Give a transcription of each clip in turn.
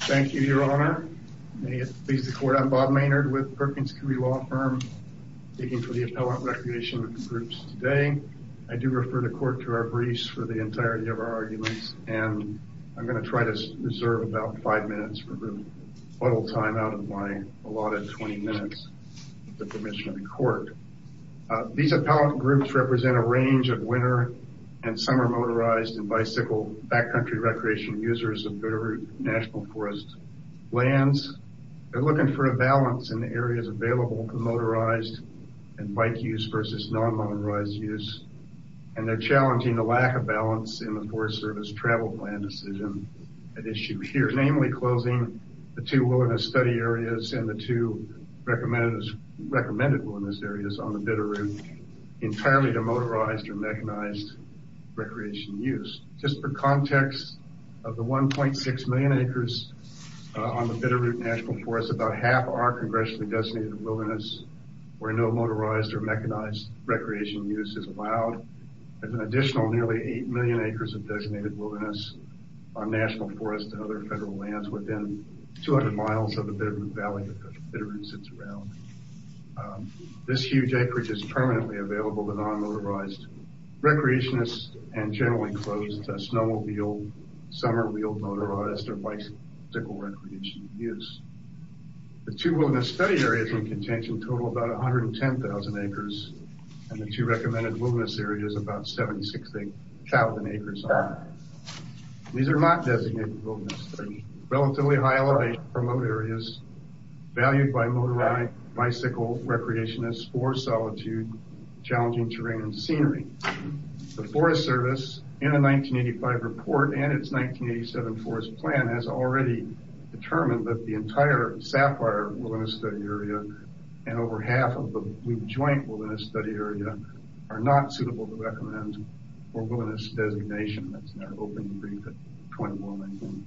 Thank you, Your Honor. May it please the Court, I'm Bob Maynard with Perkins Coie Law Firm, speaking for the Appellant Recreation Groups today. I do refer the Court to our briefs for the entirety of our arguments, and I'm going to try to reserve about five minutes for a little time out of my allotted 20 minutes with the permission of the Court. These appellant groups represent a range of winter and summer motorized and bicycle backcountry recreation users of good root national forest lands. They're looking for a balance in the areas available for motorized and bike use versus non-motorized use, and they're challenging the lack of balance in the Forest Service travel plan decision at issue here, namely closing the two wilderness study areas and the two recommended wilderness areas on the Bitterroot entirely to motorized or mechanized recreation use. Just for context, of the 1.6 million acres on the Bitterroot National Forest, about half are congressionally designated wilderness where no motorized or mechanized recreation use is allowed. There's an additional nearly 8 million acres of designated wilderness on national forests and other federal lands within 200 miles of the Bitterroot Valley that the Bitterroot sits around. This huge acreage is permanently available to non-motorized recreationists and generally closed to snowmobile, summer wheeled motorized, or bicycle recreation use. The two wilderness study areas in contention total about 110,000 acres, and the two recommended wilderness areas about 76,000 acres. These are not designated wilderness, but relatively high elevation remote areas valued by motorized, bicycle recreationists for solitude, challenging terrain and scenery. The Forest Service, in a 1985 report and its 1987 forest plan, has already determined that the entire Sapphire wilderness study area and over half of the Blue Joint wilderness study area are not suitable to recommend for wilderness designation. That's in our open brief at 21.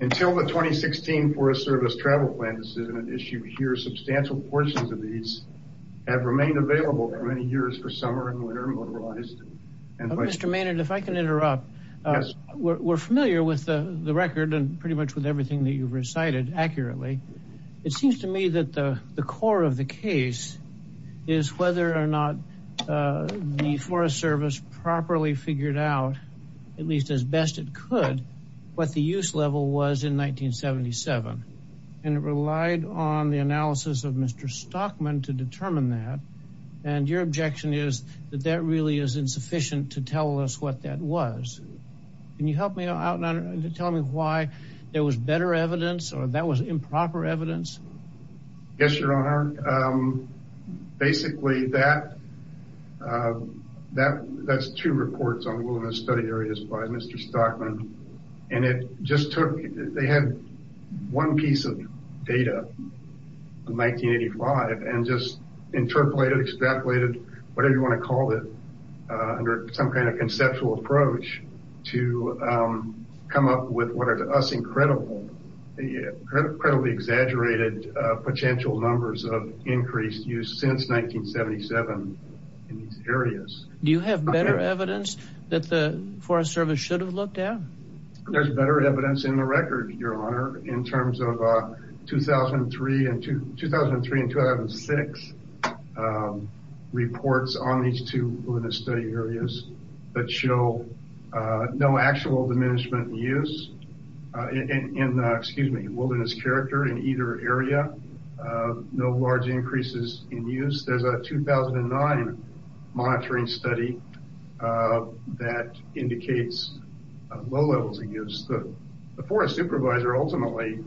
Until the 2016 Forest Service travel plan is issued here, substantial portions of these have remained available for many years for summer and winter motorized. Mr. Maynard, if I can interrupt, we're familiar with the record and pretty much with everything that you've recited accurately. It seems to me that the core of the case is whether or not the Forest Service properly figured out, at least as best it could, what the use level was in 1977. And it relied on the analysis of Mr. Stockman to determine that. And your objection is that that really is insufficient to tell us what that was. Can you help me out and tell me why there was better evidence or that was improper evidence? Yes, Your Honor. Basically, that's two reports on wilderness study areas by Mr. Stockman. And it just took, they had one piece of data in 1985 and just interpolated, extrapolated, whatever you want to call it, under some kind of conceptual approach to come up with what are to us incredibly exaggerated potential numbers of increased use since 1977 in these areas. Do you have better evidence that the Forest Service should have looked at? There's better evidence in the record, Your Honor, in terms of 2003 and 2006 reports on these two wilderness study areas that show no actual diminishment in use. Excuse me, wilderness character in either area. No large increases in use. There's a 2009 monitoring study that indicates low levels of use. The forest supervisor ultimately,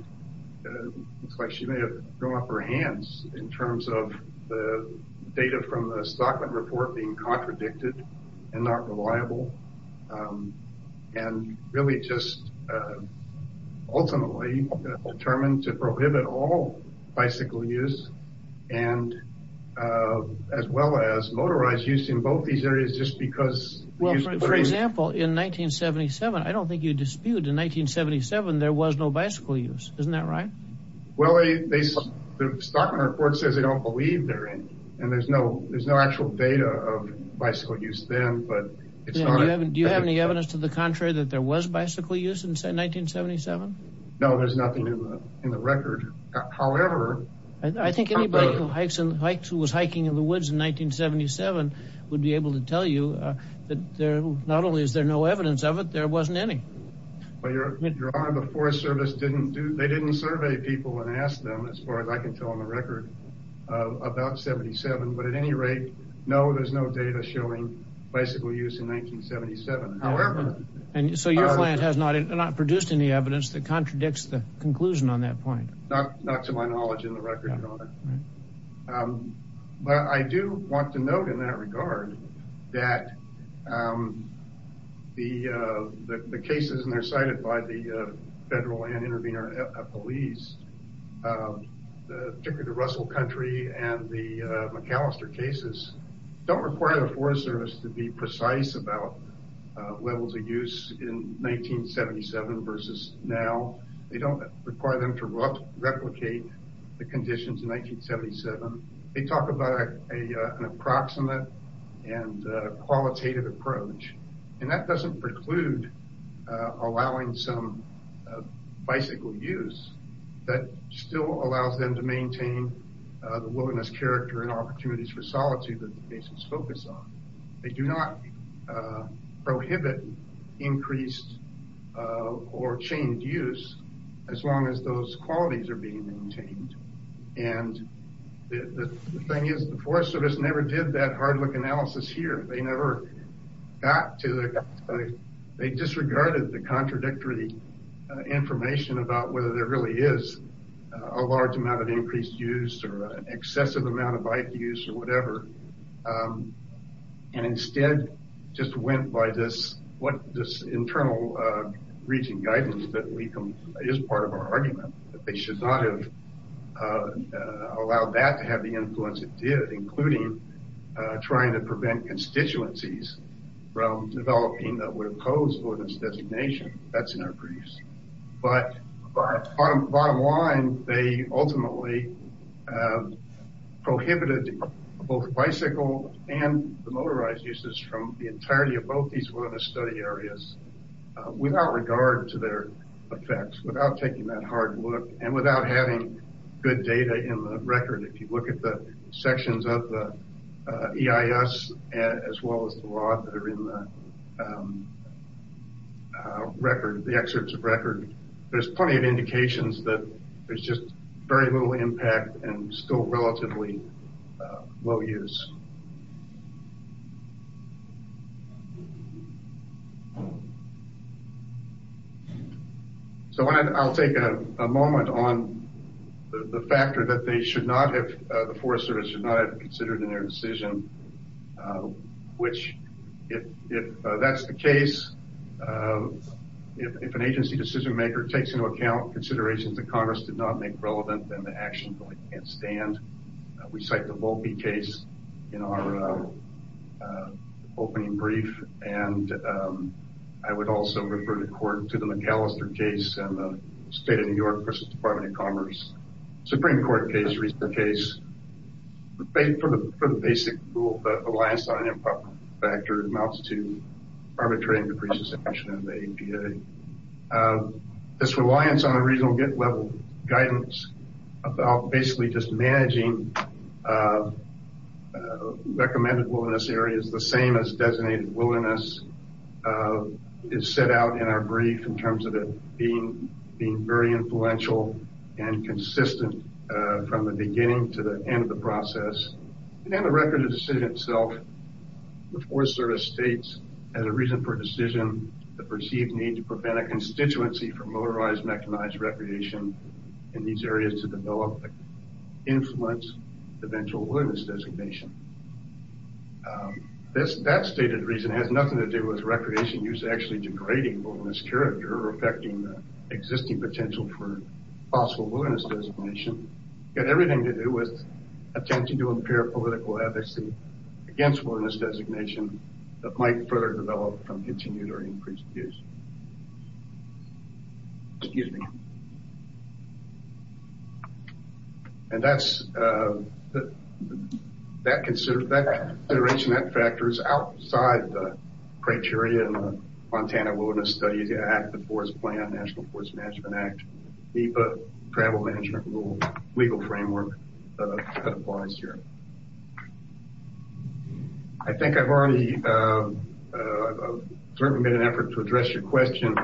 looks like she may have thrown up her hands in terms of the data from the Stockman report being contradicted and not reliable. And really just ultimately determined to prohibit all bicycle use and as well as motorized use in both these areas just because... For example, in 1977, I don't think you dispute in 1977 there was no bicycle use, isn't that right? Well, the Stockman report says they don't believe there is. And there's no actual data of bicycle use then. Do you have any evidence to the contrary that there was bicycle use in 1977? No, there's nothing in the record. I think anybody who was hiking in the woods in 1977 would be able to tell you that not only is there no evidence of it, there wasn't any. Your Honor, the Forest Service didn't survey people and ask them, as far as I can tell in the record, about 77. But at any rate, no, there's no data showing bicycle use in 1977. So your client has not produced any evidence that contradicts the conclusion on that point? Not to my knowledge in the record, Your Honor. But I do want to note in that regard that the cases that are cited by the Federal Land Intervenor Police, particularly the Russell Country and the McAllister cases, don't require the Forest Service to be precise about levels of use in 1977 versus now. They don't require them to replicate the conditions in 1977. They talk about an approximate and qualitative approach. And that doesn't preclude allowing some bicycle use. That still allows them to maintain the wilderness character and opportunities for solitude that the cases focus on. They do not prohibit increased or changed use as long as those qualities are being maintained. And the thing is, the Forest Service never did that hard look analysis here. They never got to it. They disregarded the contradictory information about whether there really is a large amount of increased use or an excessive amount of bike use or whatever. And instead just went by this internal region guidance that is part of our argument. They should not have allowed that to have the influence it did, including trying to prevent constituencies from developing that would oppose wilderness designation. That's in our briefs. Bottom line, they ultimately prohibited both bicycle and motorized uses from the entirety of both these wilderness study areas without regard to their effects, without taking that hard look, and without having good data in the record. If you look at the sections of the EIS as well as the law that are in the record, the excerpts of record, there's plenty of indications that there's just very little impact and still relatively low use. So I'll take a moment on the factor that they should not have, the Forest Service should not have considered in their decision, which if that's the case, if an agency decision maker takes into account considerations that Congress did not make relevant, then the actions really can't stand. We cite the Volpe case in our opening brief, and I would also refer the court to the McAllister case and the State of New York versus Department of Commerce, Supreme Court case, recent case. For the basic rule, the reliance on an improper factor amounts to arbitrary and capricious action in the APA. This reliance on a regional level guidance about basically just managing recommended wilderness areas the same as designated wilderness is set out in our brief in terms of it being very influential and consistent from the beginning to the end of the process. In the record of the decision itself, the Forest Service states as a reason for decision, the perceived need to prevent a constituency for motorized mechanized recreation in these areas to develop influence eventual wilderness designation. That stated reason has nothing to do with recreation use actually degrading wilderness character or affecting the existing potential for possible wilderness designation. It had everything to do with attempting to impair political advocacy against wilderness designation that might further develop from continued or increased use. Excuse me. And that consideration, that factor is outside the criteria in the Montana Wilderness Studies Act, the Forest Plan, National Forest Management Act, APA, Travel Management Rule, legal framework that applies here. I think I've already certainly made an effort to address your question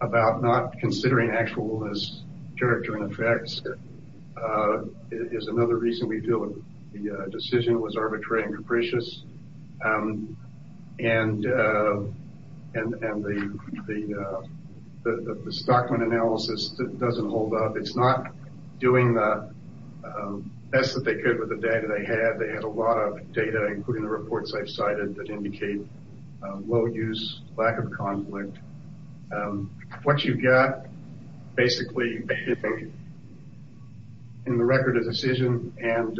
about not considering actual wilderness character and effects. It is another reason we feel the decision was arbitrary and capricious. And the stock analysis doesn't hold up. It's not doing the best that they could with the data they had. They had a lot of data including the reports I've cited that indicate low use, lack of conflict. What you've got basically in the record of decision and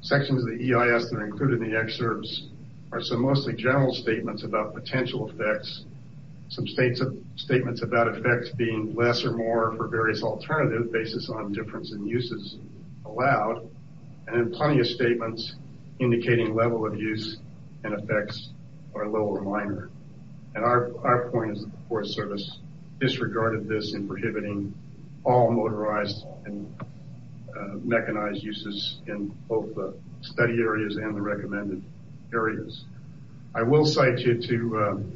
sections of the EIS that are included in the excerpts are some mostly general statements about potential effects. Some statements about effects being less or more for various alternative basis on difference in uses allowed. And then plenty of statements indicating level of use and effects are low or minor. And our point is the Forest Service disregarded this in prohibiting all motorized and mechanized uses in both the study areas and the recommended areas. I will cite you to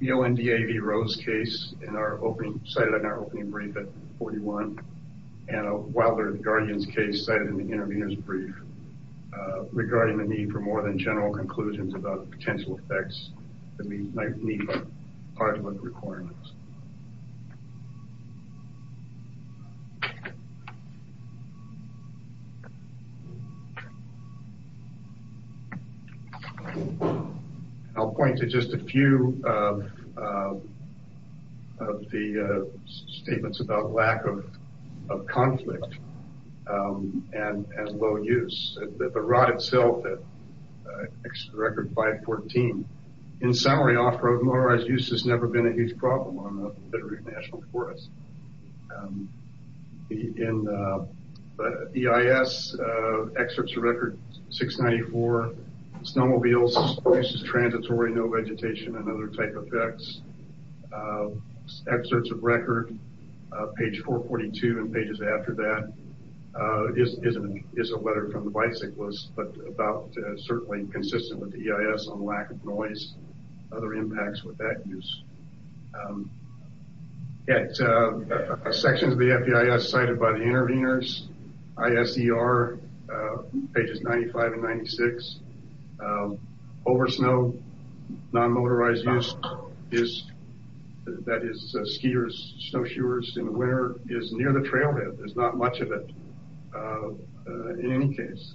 the ONDAV Rose case in our opening, cited in our opening brief at 41. And Wilder Guardian's case cited in the intervener's brief regarding the need for more than general conclusions about potential effects that might meet our requirements. I'll point to just a few of the statements about lack of conflict and low use. The rod itself, record 514, in summary off-road motorized use has never been a huge problem on the Federated National Forest. In the EIS, excerpts of record 694, snowmobiles, uses transitory, no vegetation and other type effects. Excerpts of record page 442 and pages after that is a letter from the bicyclist, but about certainly consistent with the EIS on lack of noise, other impacts with that use. Sections of the EIS cited by the interveners, ISER pages 95 and 96, over snow, non-motorized use, that is skiers, snowshoers in the winter is near the trailhead. There's not much of it in any case.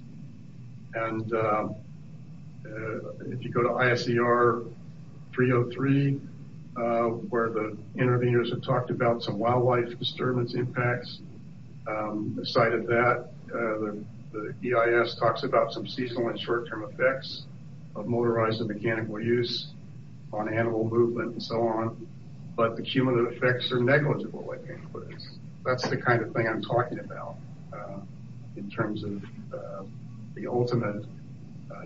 And if you go to ISER 303, where the interveners have talked about some wildlife disturbance impacts, cited that. The EIS talks about some seasonal and short-term effects of motorized and mechanical use on animal movement and so on. But the cumulative effects are negligible. That's the kind of thing I'm talking about in terms of the ultimate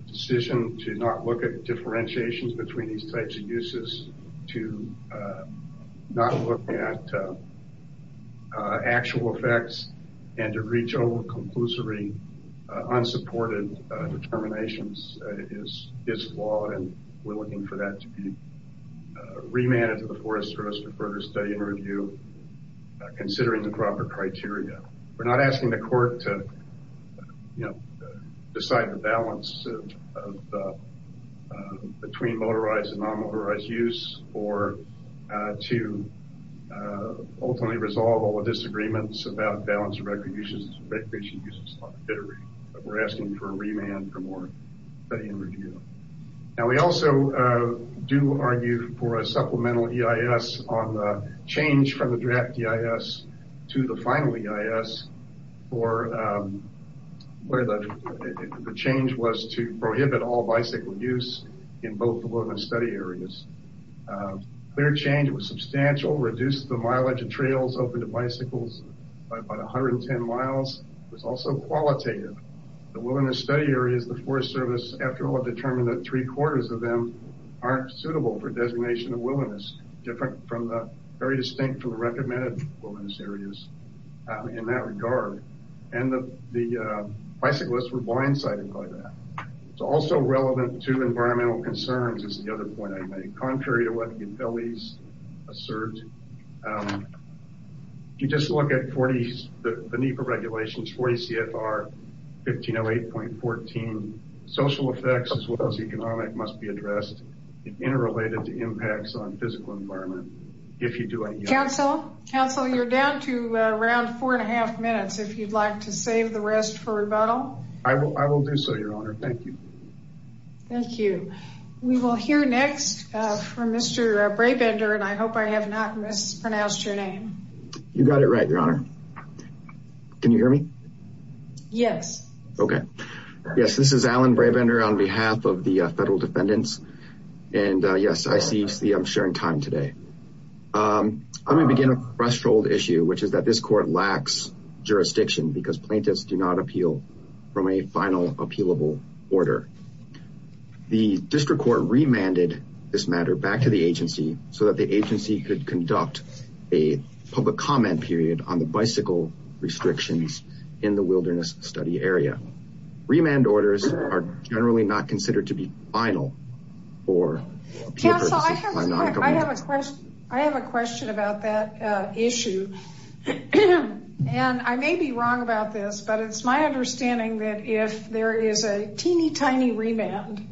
decision to not look at differentiations between these types of uses. To not look at actual effects and to reach over conclusory, unsupported determinations is flawed and we're looking for that to be remanded to the Forest Service for further study and review, considering the proper criteria. We're not asking the court to decide the balance between motorized and non-motorized use or to ultimately resolve all the disagreements about balance of recognition uses. We're asking for a remand for more study and review. We also do argue for a supplemental EIS on the change from the draft EIS to the final EIS, where the change was to prohibit all bicycle use in both the wilderness study areas. Clear change was substantial, reduced the mileage of trails open to bicycles by about 110 miles. It was also qualitative. The wilderness study areas, the Forest Service, after all, determined that three quarters of them aren't suitable for designation of wilderness. Different from the very distinct from the recommended wilderness areas in that regard. And the bicyclists were blindsided by that. It's also relevant to environmental concerns, is the other point I made. Contrary to what the utilities assert, if you just look at the NEPA regulations, 40 CFR 1508.14, social effects as well as economic must be addressed. Interrelated to impacts on physical environment, if you do anything. Council, you're down to around four and a half minutes, if you'd like to save the rest for rebuttal. I will do so, your honor. Thank you. Thank you. We will hear next from Mr. Brabender, and I hope I have not mispronounced your name. You got it right, your honor. Can you hear me? Yes. Okay. Yes, this is Alan Brabender on behalf of the federal defendants. And yes, I see I'm sharing time today. Let me begin a threshold issue, which is that this court lacks jurisdiction because plaintiffs do not appeal from a final appealable order. The district court remanded this matter back to the agency so that the agency could conduct a public comment period on the bicycle restrictions in the wilderness study area. Remand orders are generally not considered to be final. Council, I have a question about that issue. And I may be wrong about this, but it's my understanding that if there is a teeny tiny remand,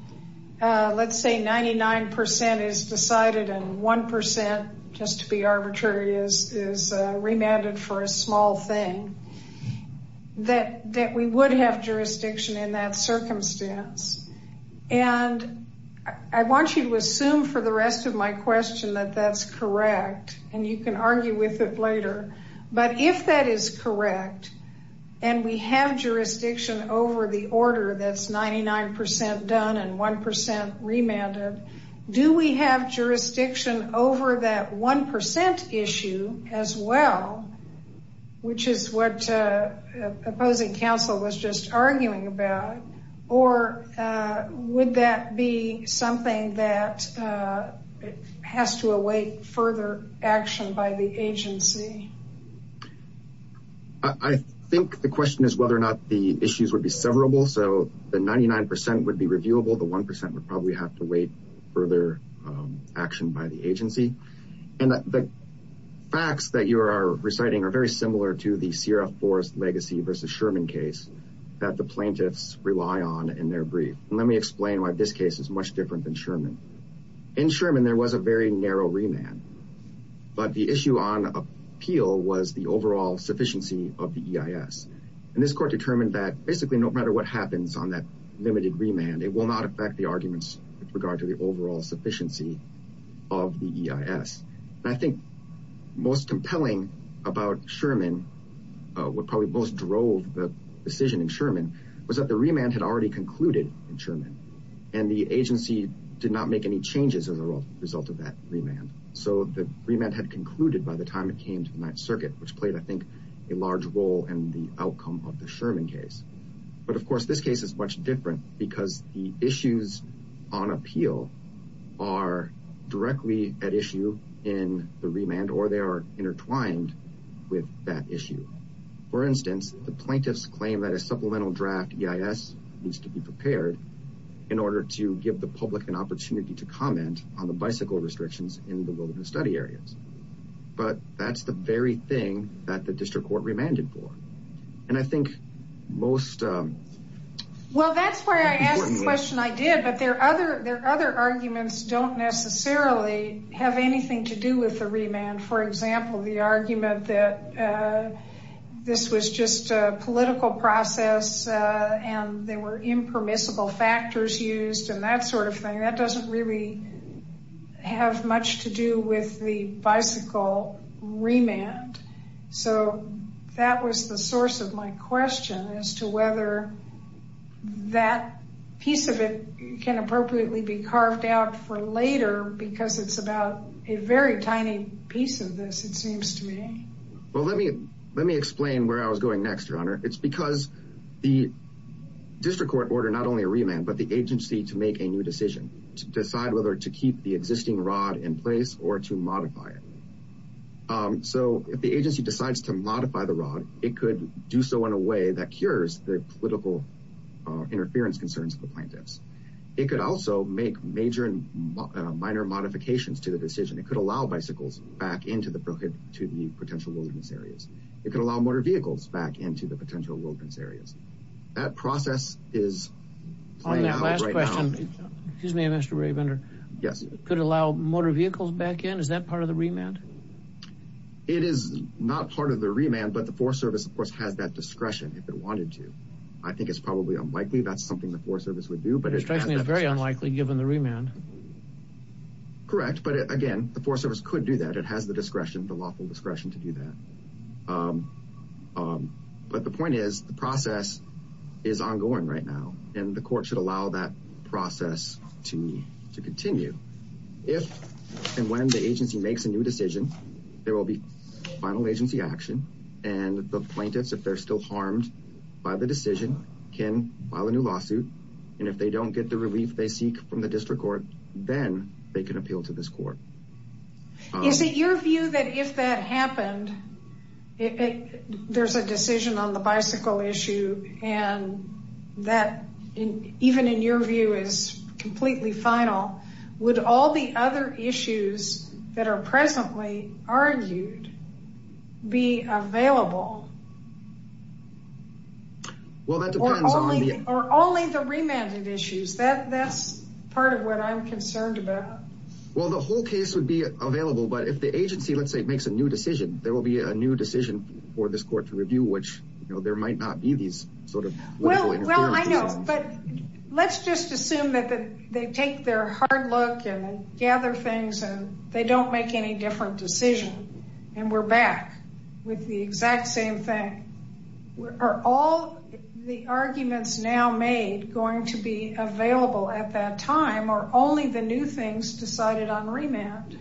let's say 99% is decided and 1%, just to be arbitrary, is remanded for a small thing, that we would have jurisdiction in that circumstance. And I want you to assume for the rest of my question that that's correct, and you can argue with it later. But if that is correct, and we have jurisdiction over the order that's 99% done and 1% remanded, do we have jurisdiction over that 1% issue as well? Which is what opposing counsel was just arguing about. Or would that be something that has to await further action by the agency? I think the question is whether or not the issues would be severable. So the 99% would be reviewable. The 1% would probably have to wait further action by the agency. And the facts that you are reciting are very similar to the CRF Forest legacy versus Sherman case that the plaintiffs rely on in their brief. And let me explain why this case is much different than Sherman. In Sherman, there was a very narrow remand. But the issue on appeal was the overall sufficiency of the EIS. And this court determined that basically no matter what happens on that limited remand, it will not affect the arguments with regard to the overall sufficiency of the EIS. And I think most compelling about Sherman, what probably most drove the decision in Sherman, was that the remand had already concluded in Sherman. And the agency did not make any changes as a result of that remand. So the remand had concluded by the time it came to the Ninth Circuit, which played, I think, a large role in the outcome of the Sherman case. But, of course, this case is much different because the issues on appeal are directly at issue in the remand, or they are intertwined with that issue. For instance, the plaintiffs claim that a supplemental draft EIS needs to be prepared in order to give the public an opportunity to comment on the bicycle restrictions in the wilderness study areas. But that's the very thing that the district court remanded for. And I think most... Well, that's why I asked the question I did, but their other arguments don't necessarily have anything to do with the remand. For example, the argument that this was just a political process and there were impermissible factors used and that sort of thing, that doesn't really have much to do with the bicycle remand. So that was the source of my question as to whether that piece of it can appropriately be carved out for later because it's about a very tiny piece of this, it seems to me. Well, let me explain where I was going next, Your Honor. It's because the district court ordered not only a remand, but the agency to make a new decision to decide whether to keep the existing rod in place or to modify it. So if the agency decides to modify the rod, it could do so in a way that cures the political interference concerns of the plaintiffs. It could also make major and minor modifications to the decision. It could allow bicycles back into the potential wilderness areas. It could allow motor vehicles back into the potential wilderness areas. That process is playing out right now. Excuse me, Mr. Raybender. Yes. Could it allow motor vehicles back in? Is that part of the remand? It is not part of the remand, but the Forest Service, of course, has that discretion if it wanted to. I think it's probably unlikely that's something the Forest Service would do. It strikes me as very unlikely given the remand. Correct, but again, the Forest Service could do that. It has the discretion, the lawful discretion to do that. But the point is the process is ongoing right now, and the court should allow that process to continue. If and when the agency makes a new decision, there will be final agency action. And the plaintiffs, if they're still harmed by the decision, can file a new lawsuit. And if they don't get the relief they seek from the district court, then they can appeal to this court. Is it your view that if that happened, there's a decision on the bicycle issue, and that even in your view is completely final, would all the other issues that are presently argued be available? Well, that depends on the... Or only the remanded issues. That's part of what I'm concerned about. Well, the whole case would be available, but if the agency, let's say, makes a new decision, there will be a new decision for this court to review, which, you know, there might not be these sort of... Well, I know, but let's just assume that they take their hard look and gather things, and they don't make any different decision, and we're back with the exact same thing. Are all the arguments now made going to be available at that time, or only the new things decided on remand?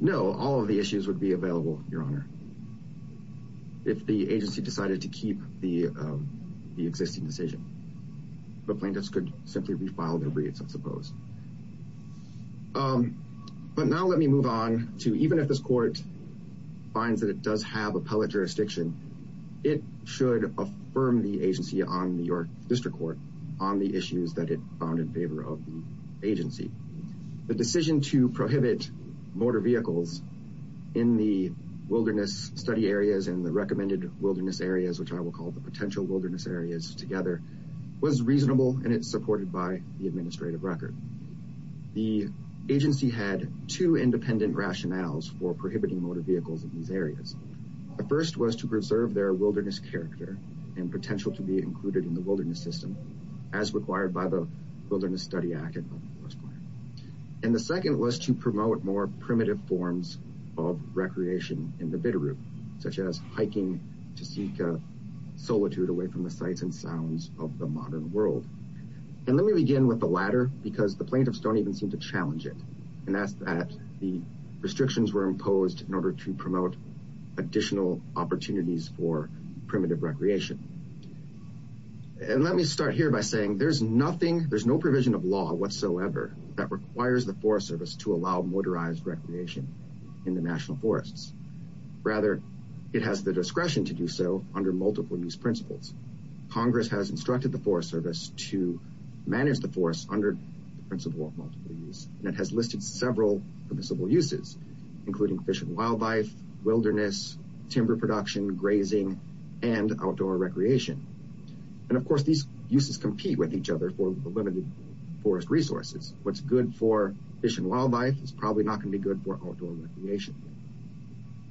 No, all of the issues would be available, Your Honor, if the agency decided to keep the existing decision. The plaintiffs could simply refile their briefs, I suppose. But now let me move on to even if this court finds that it does have appellate jurisdiction, it should affirm the agency on your district court on the issues that it found in favor of the agency. The decision to prohibit motor vehicles in the wilderness study areas and the recommended wilderness areas, which I will call the potential wilderness areas together, was reasonable, and it's supported by the administrative record. The agency had two independent rationales for prohibiting motor vehicles in these areas. The first was to preserve their wilderness character and potential to be included in the wilderness system, as required by the Wilderness Study Act. And the second was to promote more primitive forms of recreation in the Bitterroot, such as hiking to seek solitude away from the sights and sounds of the modern world. And let me begin with the latter because the plaintiffs don't even seem to challenge it, and that's that the restrictions were imposed in order to promote additional opportunities for primitive recreation. And let me start here by saying there's nothing, there's no provision of law whatsoever that requires the Forest Service to allow motorized recreation in the national forests. Rather, it has the discretion to do so under multiple use principles. Congress has instructed the Forest Service to manage the forest under the principle of multiple use, and it has listed several permissible uses, including fish and wildlife, wilderness, timber production, grazing, and outdoor recreation. And of course, these uses compete with each other for the limited forest resources. What's good for fish and wildlife is probably not going to be good for outdoor recreation.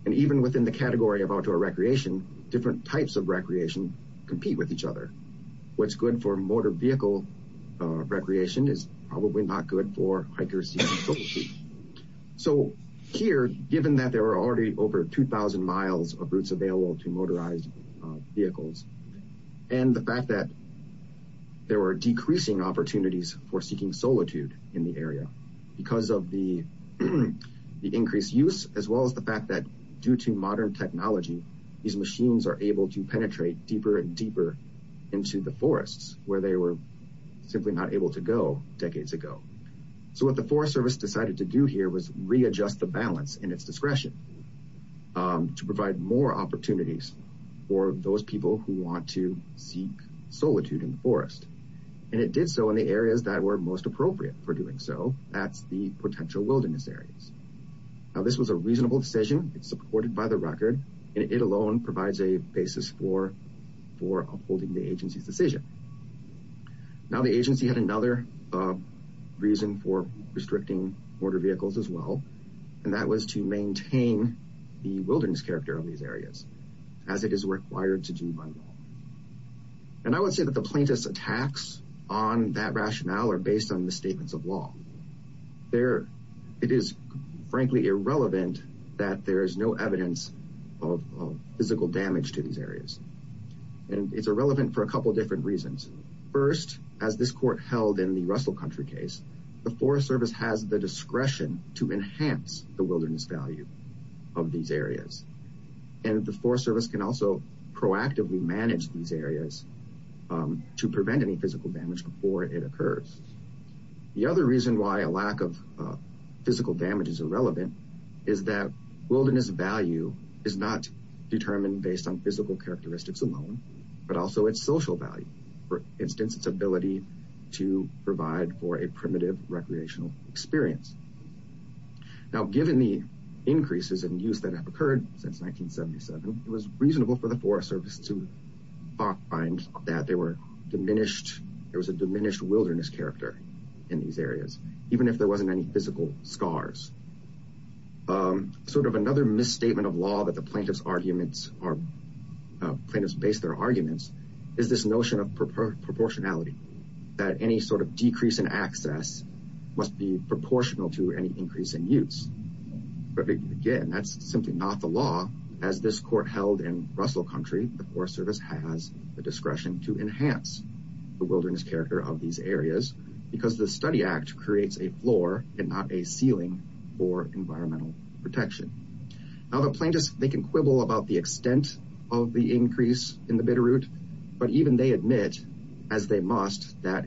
And even within the category of outdoor recreation, different types of recreation compete with each other. What's good for motor vehicle recreation is probably not good for hikers seeking solitude. So here, given that there are already over 2,000 miles of routes available to motorized vehicles, and the fact that there are decreasing opportunities for seeking solitude in the area because of the increased use, as well as the fact that due to modern technology, these machines are able to penetrate deeper and deeper into the forests, where they were simply not able to go decades ago. So what the Forest Service decided to do here was readjust the balance in its discretion to provide more opportunities for those people who want to seek solitude in the forest. And it did so in the areas that were most appropriate for doing so. That's the potential wilderness areas. Now, this was a reasonable decision. It's supported by the record, and it alone provides a basis for upholding the agency's decision. Now, the agency had another reason for restricting motor vehicles as well, and that was to maintain the wilderness character of these areas, as it is required to do by law. And I would say that the plaintiff's attacks on that rationale are based on the statements of law. It is, frankly, irrelevant that there is no evidence of physical damage to these areas. And it's irrelevant for a couple different reasons. First, as this court held in the Russell Country case, the Forest Service has the discretion to enhance the wilderness value of these areas. And the Forest Service can also proactively manage these areas to prevent any physical damage before it occurs. The other reason why a lack of physical damage is irrelevant is that wilderness value is not determined based on physical characteristics alone, but also its social value, for instance, its ability to provide for a primitive recreational experience. Now, given the increases in use that have occurred since 1977, it was reasonable for the Forest Service to find that there was a diminished wilderness character in these areas, even if there wasn't any physical scars. Sort of another misstatement of law that the plaintiff's arguments are, plaintiffs base their arguments, is this notion of proportionality, that any sort of decrease in access must be proportional to any increase in use. But again, that's simply not the law. As this court held in Russell Country, the Forest Service has the discretion to enhance the wilderness character of these areas because the Study Act creates a floor and not a ceiling for environmental protection. Now, the plaintiffs, they can quibble about the extent of the increase in the Bitterroot, but even they admit, as they must, that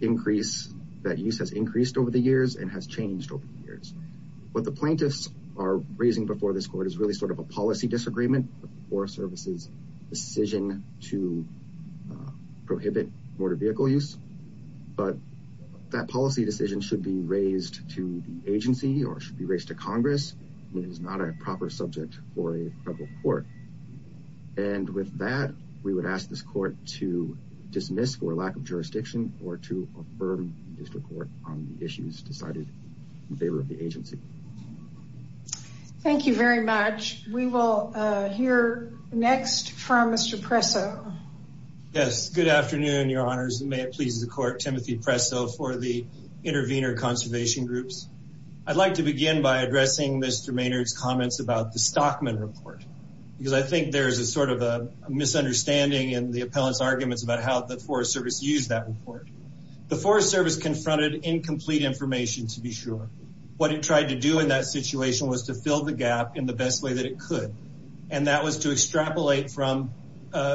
increase, that use has increased over the years and has changed over the years. What the plaintiffs are raising before this court is really sort of a policy disagreement, the Forest Service's decision to prohibit motor vehicle use. But that policy decision should be raised to the agency or should be raised to Congress. It is not a proper subject for a federal court. And with that, we would ask this court to dismiss for lack of jurisdiction or to affirm the district court on the issues decided in favor of the agency. Thank you very much. We will hear next from Mr. Presso. Yes, good afternoon, Your Honors. May it please the court, Timothy Presso for the Intervenor Conservation Groups. I'd like to begin by addressing Mr. Maynard's comments about the Stockman report because I think there is a sort of a misunderstanding in the appellant's arguments about how the Forest Service used that report. The Forest Service confronted incomplete information, to be sure. What it tried to do in that situation was to fill the gap in the best way that it could, and that was to extrapolate from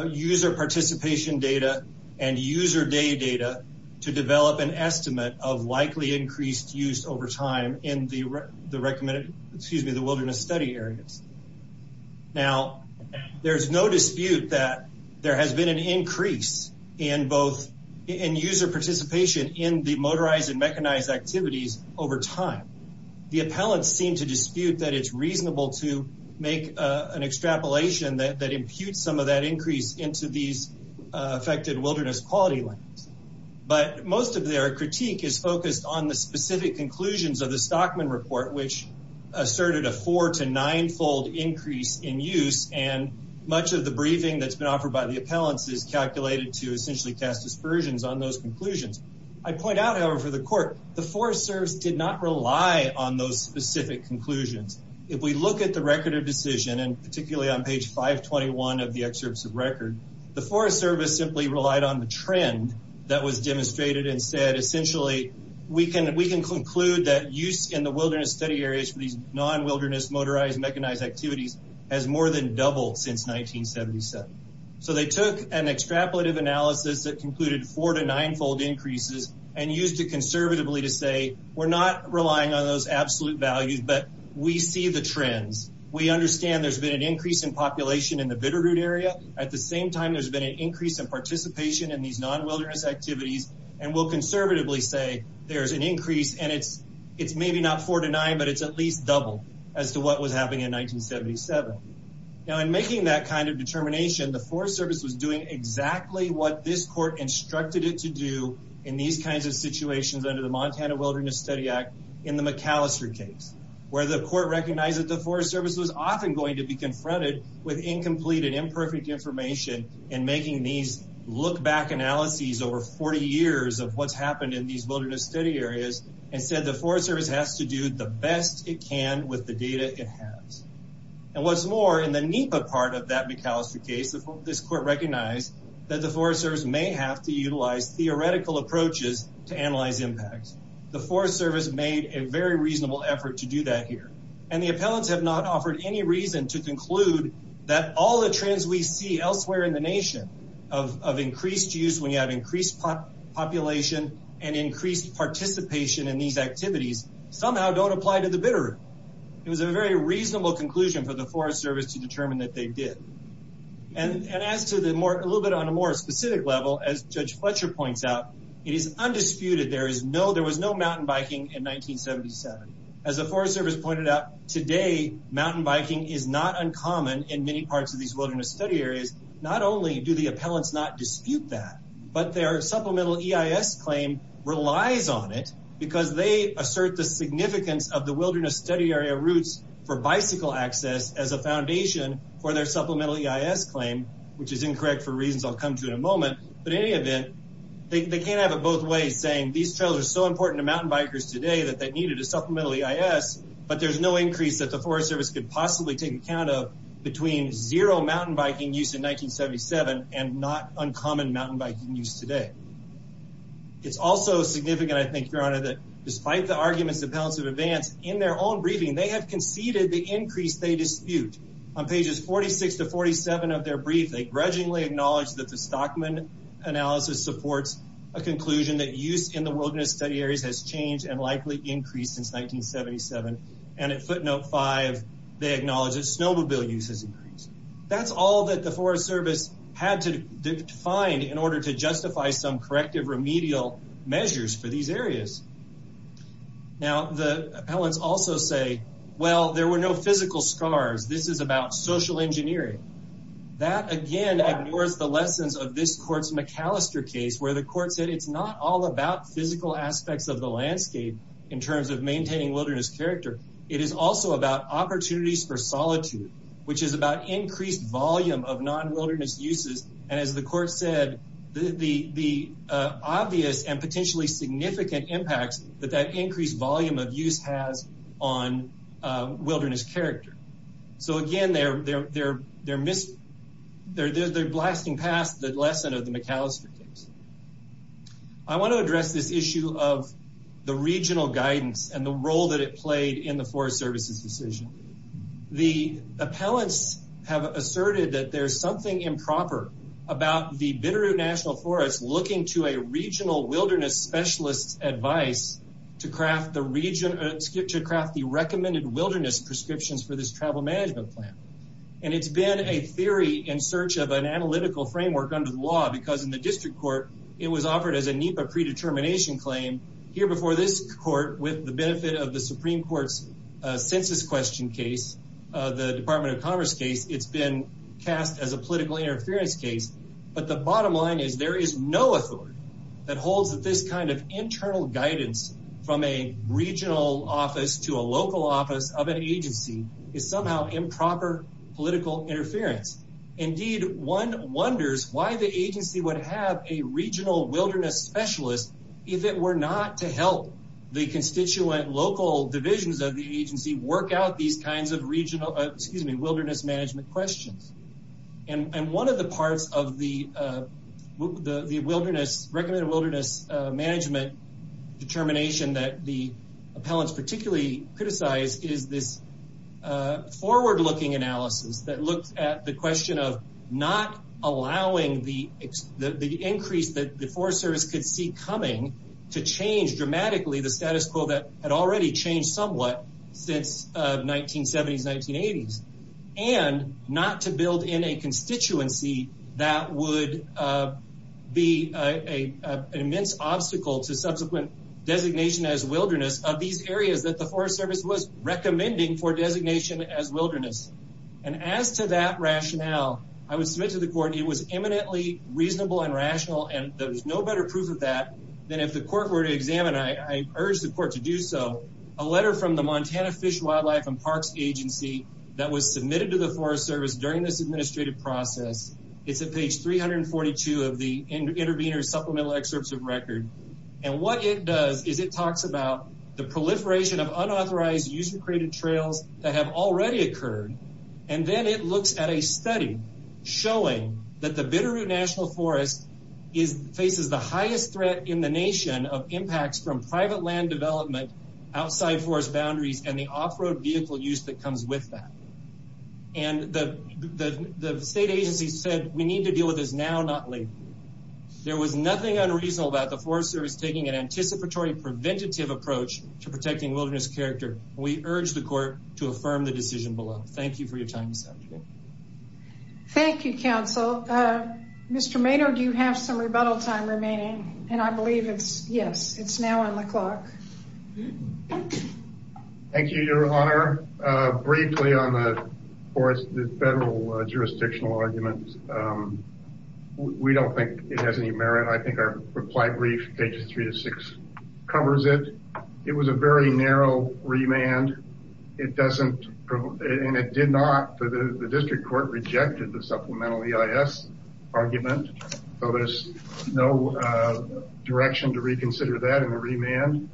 user participation data and user day data to develop an estimate of likely increased use over time in the wilderness study areas. Now, there's no dispute that there has been an increase in user participation in the motorized and mechanized activities over time. The appellants seem to dispute that it's reasonable to make an extrapolation that imputes some of that increase into these affected wilderness quality limits. But most of their critique is focused on the specific conclusions of the Stockman report, which asserted a four- to nine-fold increase in use, and much of the briefing that's been offered by the appellants is calculated to essentially cast aspersions on those conclusions. I point out, however, for the court, the Forest Service did not rely on those specific conclusions. If we look at the record of decision, and particularly on page 521 of the excerpts of record, the Forest Service simply relied on the trend that was demonstrated and said, essentially, we can conclude that use in the wilderness study areas for these non-wilderness motorized and mechanized activities has more than doubled since 1977. So they took an extrapolative analysis that concluded four- to nine-fold increases and used it conservatively to say, we're not relying on those absolute values, but we see the trends. We understand there's been an increase in population in the Bitterroot area. At the same time, there's been an increase in participation in these non-wilderness activities, and we'll conservatively say there's an increase, and it's maybe not four to nine, but it's at least double as to what was happening in 1977. Now, in making that kind of determination, the Forest Service was doing exactly what this court instructed it to do in these kinds of situations under the Montana Wilderness Study Act in the McAllister case, where the court recognized that the Forest Service was often going to be confronted with incomplete and imperfect information in making these look-back analyses over 40 years of what's happened in these wilderness study areas, and said the Forest Service has to do the best it can with the data it has. And what's more, in the NEPA part of that McAllister case, this court recognized that the Forest Service may have to utilize theoretical approaches to analyze impacts. The Forest Service made a very reasonable effort to do that here, and the appellants have not offered any reason to conclude that all the trends we see elsewhere in the nation of increased use when you have increased population and increased participation in these activities somehow don't apply to the bitter. It was a very reasonable conclusion for the Forest Service to determine that they did. And as to the more, a little bit on a more specific level, as Judge Fletcher points out, it is undisputed there is no, there was no mountain biking in 1977. As the Forest Service pointed out, today mountain biking is not uncommon in many parts of these wilderness study areas. Not only do the appellants not dispute that, but their supplemental EIS claim relies on it because they assert the significance of the wilderness study area routes for bicycle access as a foundation for their supplemental EIS claim, which is incorrect for reasons I'll come to in a moment. But in any event, they can't have it both ways, saying these trails are so important to mountain bikers today that they needed a supplemental EIS, but there's no increase that the Forest Service could possibly take account of between zero mountain biking use in 1977 and not uncommon mountain biking use today. It's also significant, I think, Your Honor, that despite the arguments the appellants have advanced in their own briefing, they have conceded the increase they dispute. On pages 46 to 47 of their brief, they grudgingly acknowledge that the Stockman analysis supports a conclusion that use in the wilderness study areas has changed and likely increased since 1977. And at footnote five, they acknowledge that snowmobile use has increased. That's all that the Forest Service had to find in order to justify some corrective remedial measures for these areas. Now, the appellants also say, well, there were no physical scars. This is about social engineering. That, again, ignores the lessons of this court's McAllister case, where the court said it's not all about physical aspects of the landscape in terms of maintaining wilderness character. It is also about opportunities for solitude, which is about increased volume of non-wilderness uses. And as the court said, the obvious and potentially significant impacts that that increased volume of use has on wilderness character. So, again, they're blasting past the lesson of the McAllister case. I want to address this issue of the regional guidance and the role that it played in the Forest Service's decision. The appellants have asserted that there's something improper about the Bitterroot National Forest looking to a regional wilderness specialist's advice to craft the recommended wilderness prescriptions for this travel management plan. And it's been a theory in search of an analytical framework under the law, because in the district court, it was offered as a NEPA predetermination claim. Here before this court, with the benefit of the Supreme Court's census question case, the Department of Commerce case, it's been cast as a political interference case. But the bottom line is there is no authority that holds that this kind of internal guidance from a regional office to a local office of an agency is somehow improper political interference. Indeed, one wonders why the agency would have a regional wilderness specialist, if it were not to help the constituent local divisions of the agency work out these kinds of wilderness management questions. And one of the parts of the recommended wilderness management determination that the appellants particularly criticized is this forward-looking analysis that looked at the question of not allowing the increase that the Forest Service could see coming to change dramatically the status quo that had already changed somewhat since 1970s, 1980s, and not to build in a constituency that would be an immense obstacle to subsequent designation as wilderness of these areas that the Forest Service was recommending for designation as wilderness. And as to that rationale, I would submit to the court it was eminently reasonable and rational, and there was no better proof of that than if the court were to examine, I urge the court to do so, a letter from the Montana Fish, Wildlife, and Parks Agency that was submitted to the Forest Service during this administrative process. It's at page 342 of the intervener's supplemental excerpts of record. And what it does is it talks about the proliferation of unauthorized user-created trails that have already occurred, and then it looks at a study showing that the Bitterroot National Forest faces the highest threat in the nation of impacts from private land development outside forest boundaries and the off-road vehicle use that comes with that. And the state agency said, we need to deal with this now, not later. There was nothing unreasonable about the Forest Service taking an anticipatory preventative approach to protecting wilderness character. We urge the court to affirm the decision below. Thank you for your time this afternoon. Thank you, counsel. Mr. Mato, do you have some rebuttal time remaining? And I believe it's, yes, it's now on the clock. Thank you, Your Honor. Briefly on the federal jurisdictional argument, we don't think it has any merit. I think our reply brief, pages three to six, covers it. It was a very narrow remand. It doesn't, and it did not, the district court rejected the supplemental EIS argument. So there's no direction to reconsider that in the remand.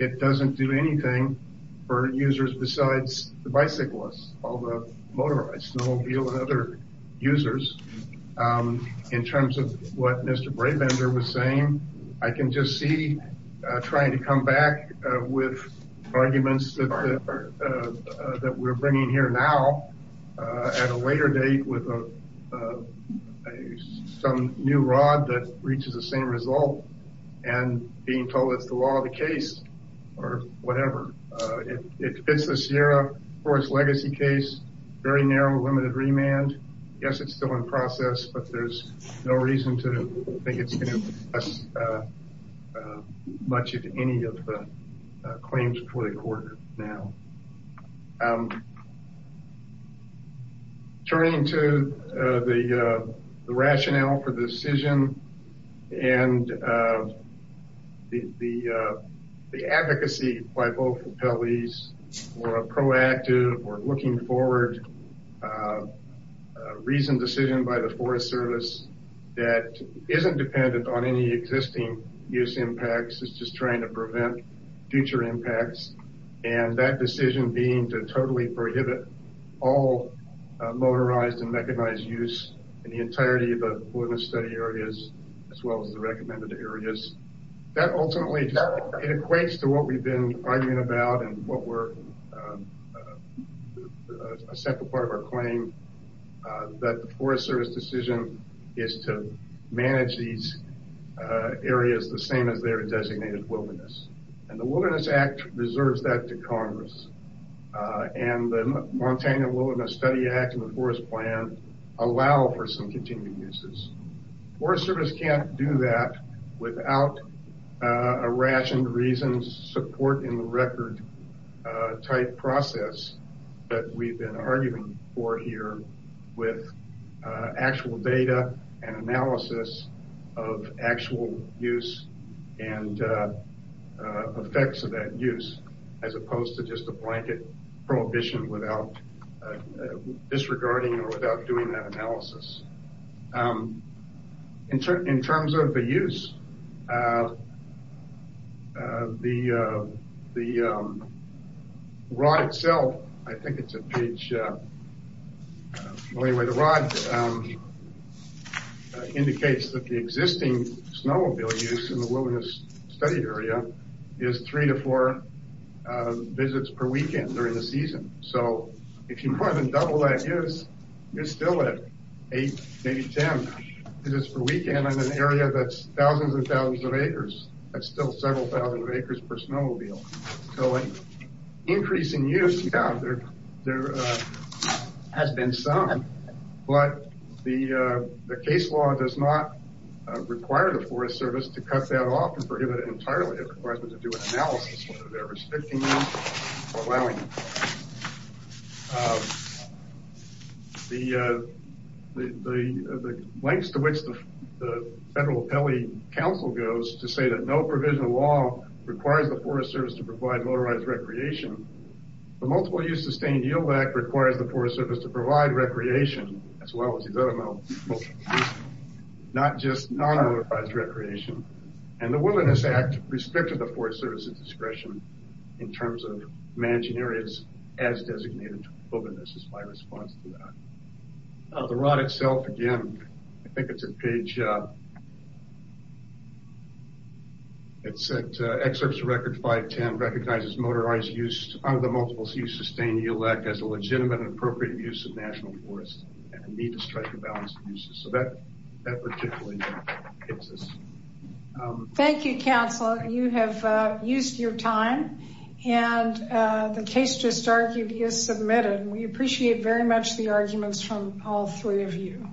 It doesn't do anything for users besides the bicyclists, all the motorized snowmobiles and other users. In terms of what Mr. Brabender was saying, I can just see trying to come back with arguments that we're bringing here now. At a later date with some new rod that reaches the same result and being told it's the law of the case or whatever. It fits the Sierra Forest legacy case, very narrow, limited remand. Yes, it's still in process, but there's no reason to think it's going to do much of any of the claims before the court now. Turning to the rationale for the decision and the advocacy by both appellees for a proactive or looking forward, reasoned decision by the Forest Service that isn't dependent on any existing use impacts. It's just trying to prevent future impacts. And that decision being to totally prohibit all motorized and mechanized use in the entirety of the study areas, as well as the recommended areas that ultimately equates to what we've been arguing about and what we're a separate part of our claim. That the Forest Service decision is to manage these areas the same as their designated wilderness. And the Wilderness Act reserves that to Congress. And the Montana Wilderness Study Act and the Forest Plan allow for some continued uses. Forest Service can't do that without a rationed reasons support in the record type process that we've been arguing for here with actual data and analysis of actual use and effects of that use, as opposed to just a blanket prohibition without disregarding or without doing that analysis. In terms of the use, the rod itself indicates that the existing snowmobile use in the wilderness study area is three to four visits per weekend during the season. So if you more than double that use, you're still at eight, maybe 10 visits per weekend in an area that's thousands and thousands of acres. That's still several thousand acres per snowmobile. So an increase in use, yeah, there has been some. But the case law does not require the Forest Service to cut that off and prohibit it entirely. It requires them to do an analysis whether they're restricting it or allowing it. The lengths to which the Federal Appellate Council goes to say that no provision of law requires the Forest Service to provide motorized recreation, the Multiple Use Sustained Yield Act requires the Forest Service to provide recreation, as well as these other motorized uses, not just non-motorized recreation. And the Wilderness Act restricted the Forest Service's discretion in terms of managing areas as designated to wilderness is my response to that. The rod itself, again, I think it's a page, it said, Excerpts of Record 510 recognizes motorized use under the Multiple Use Sustained Yield Act as a legitimate and appropriate use of national forest and a need to strike a balance of uses. So that particularly hits us. Thank you, Counselor. You have used your time and the case just argued is submitted. We appreciate very much the arguments from all three of you.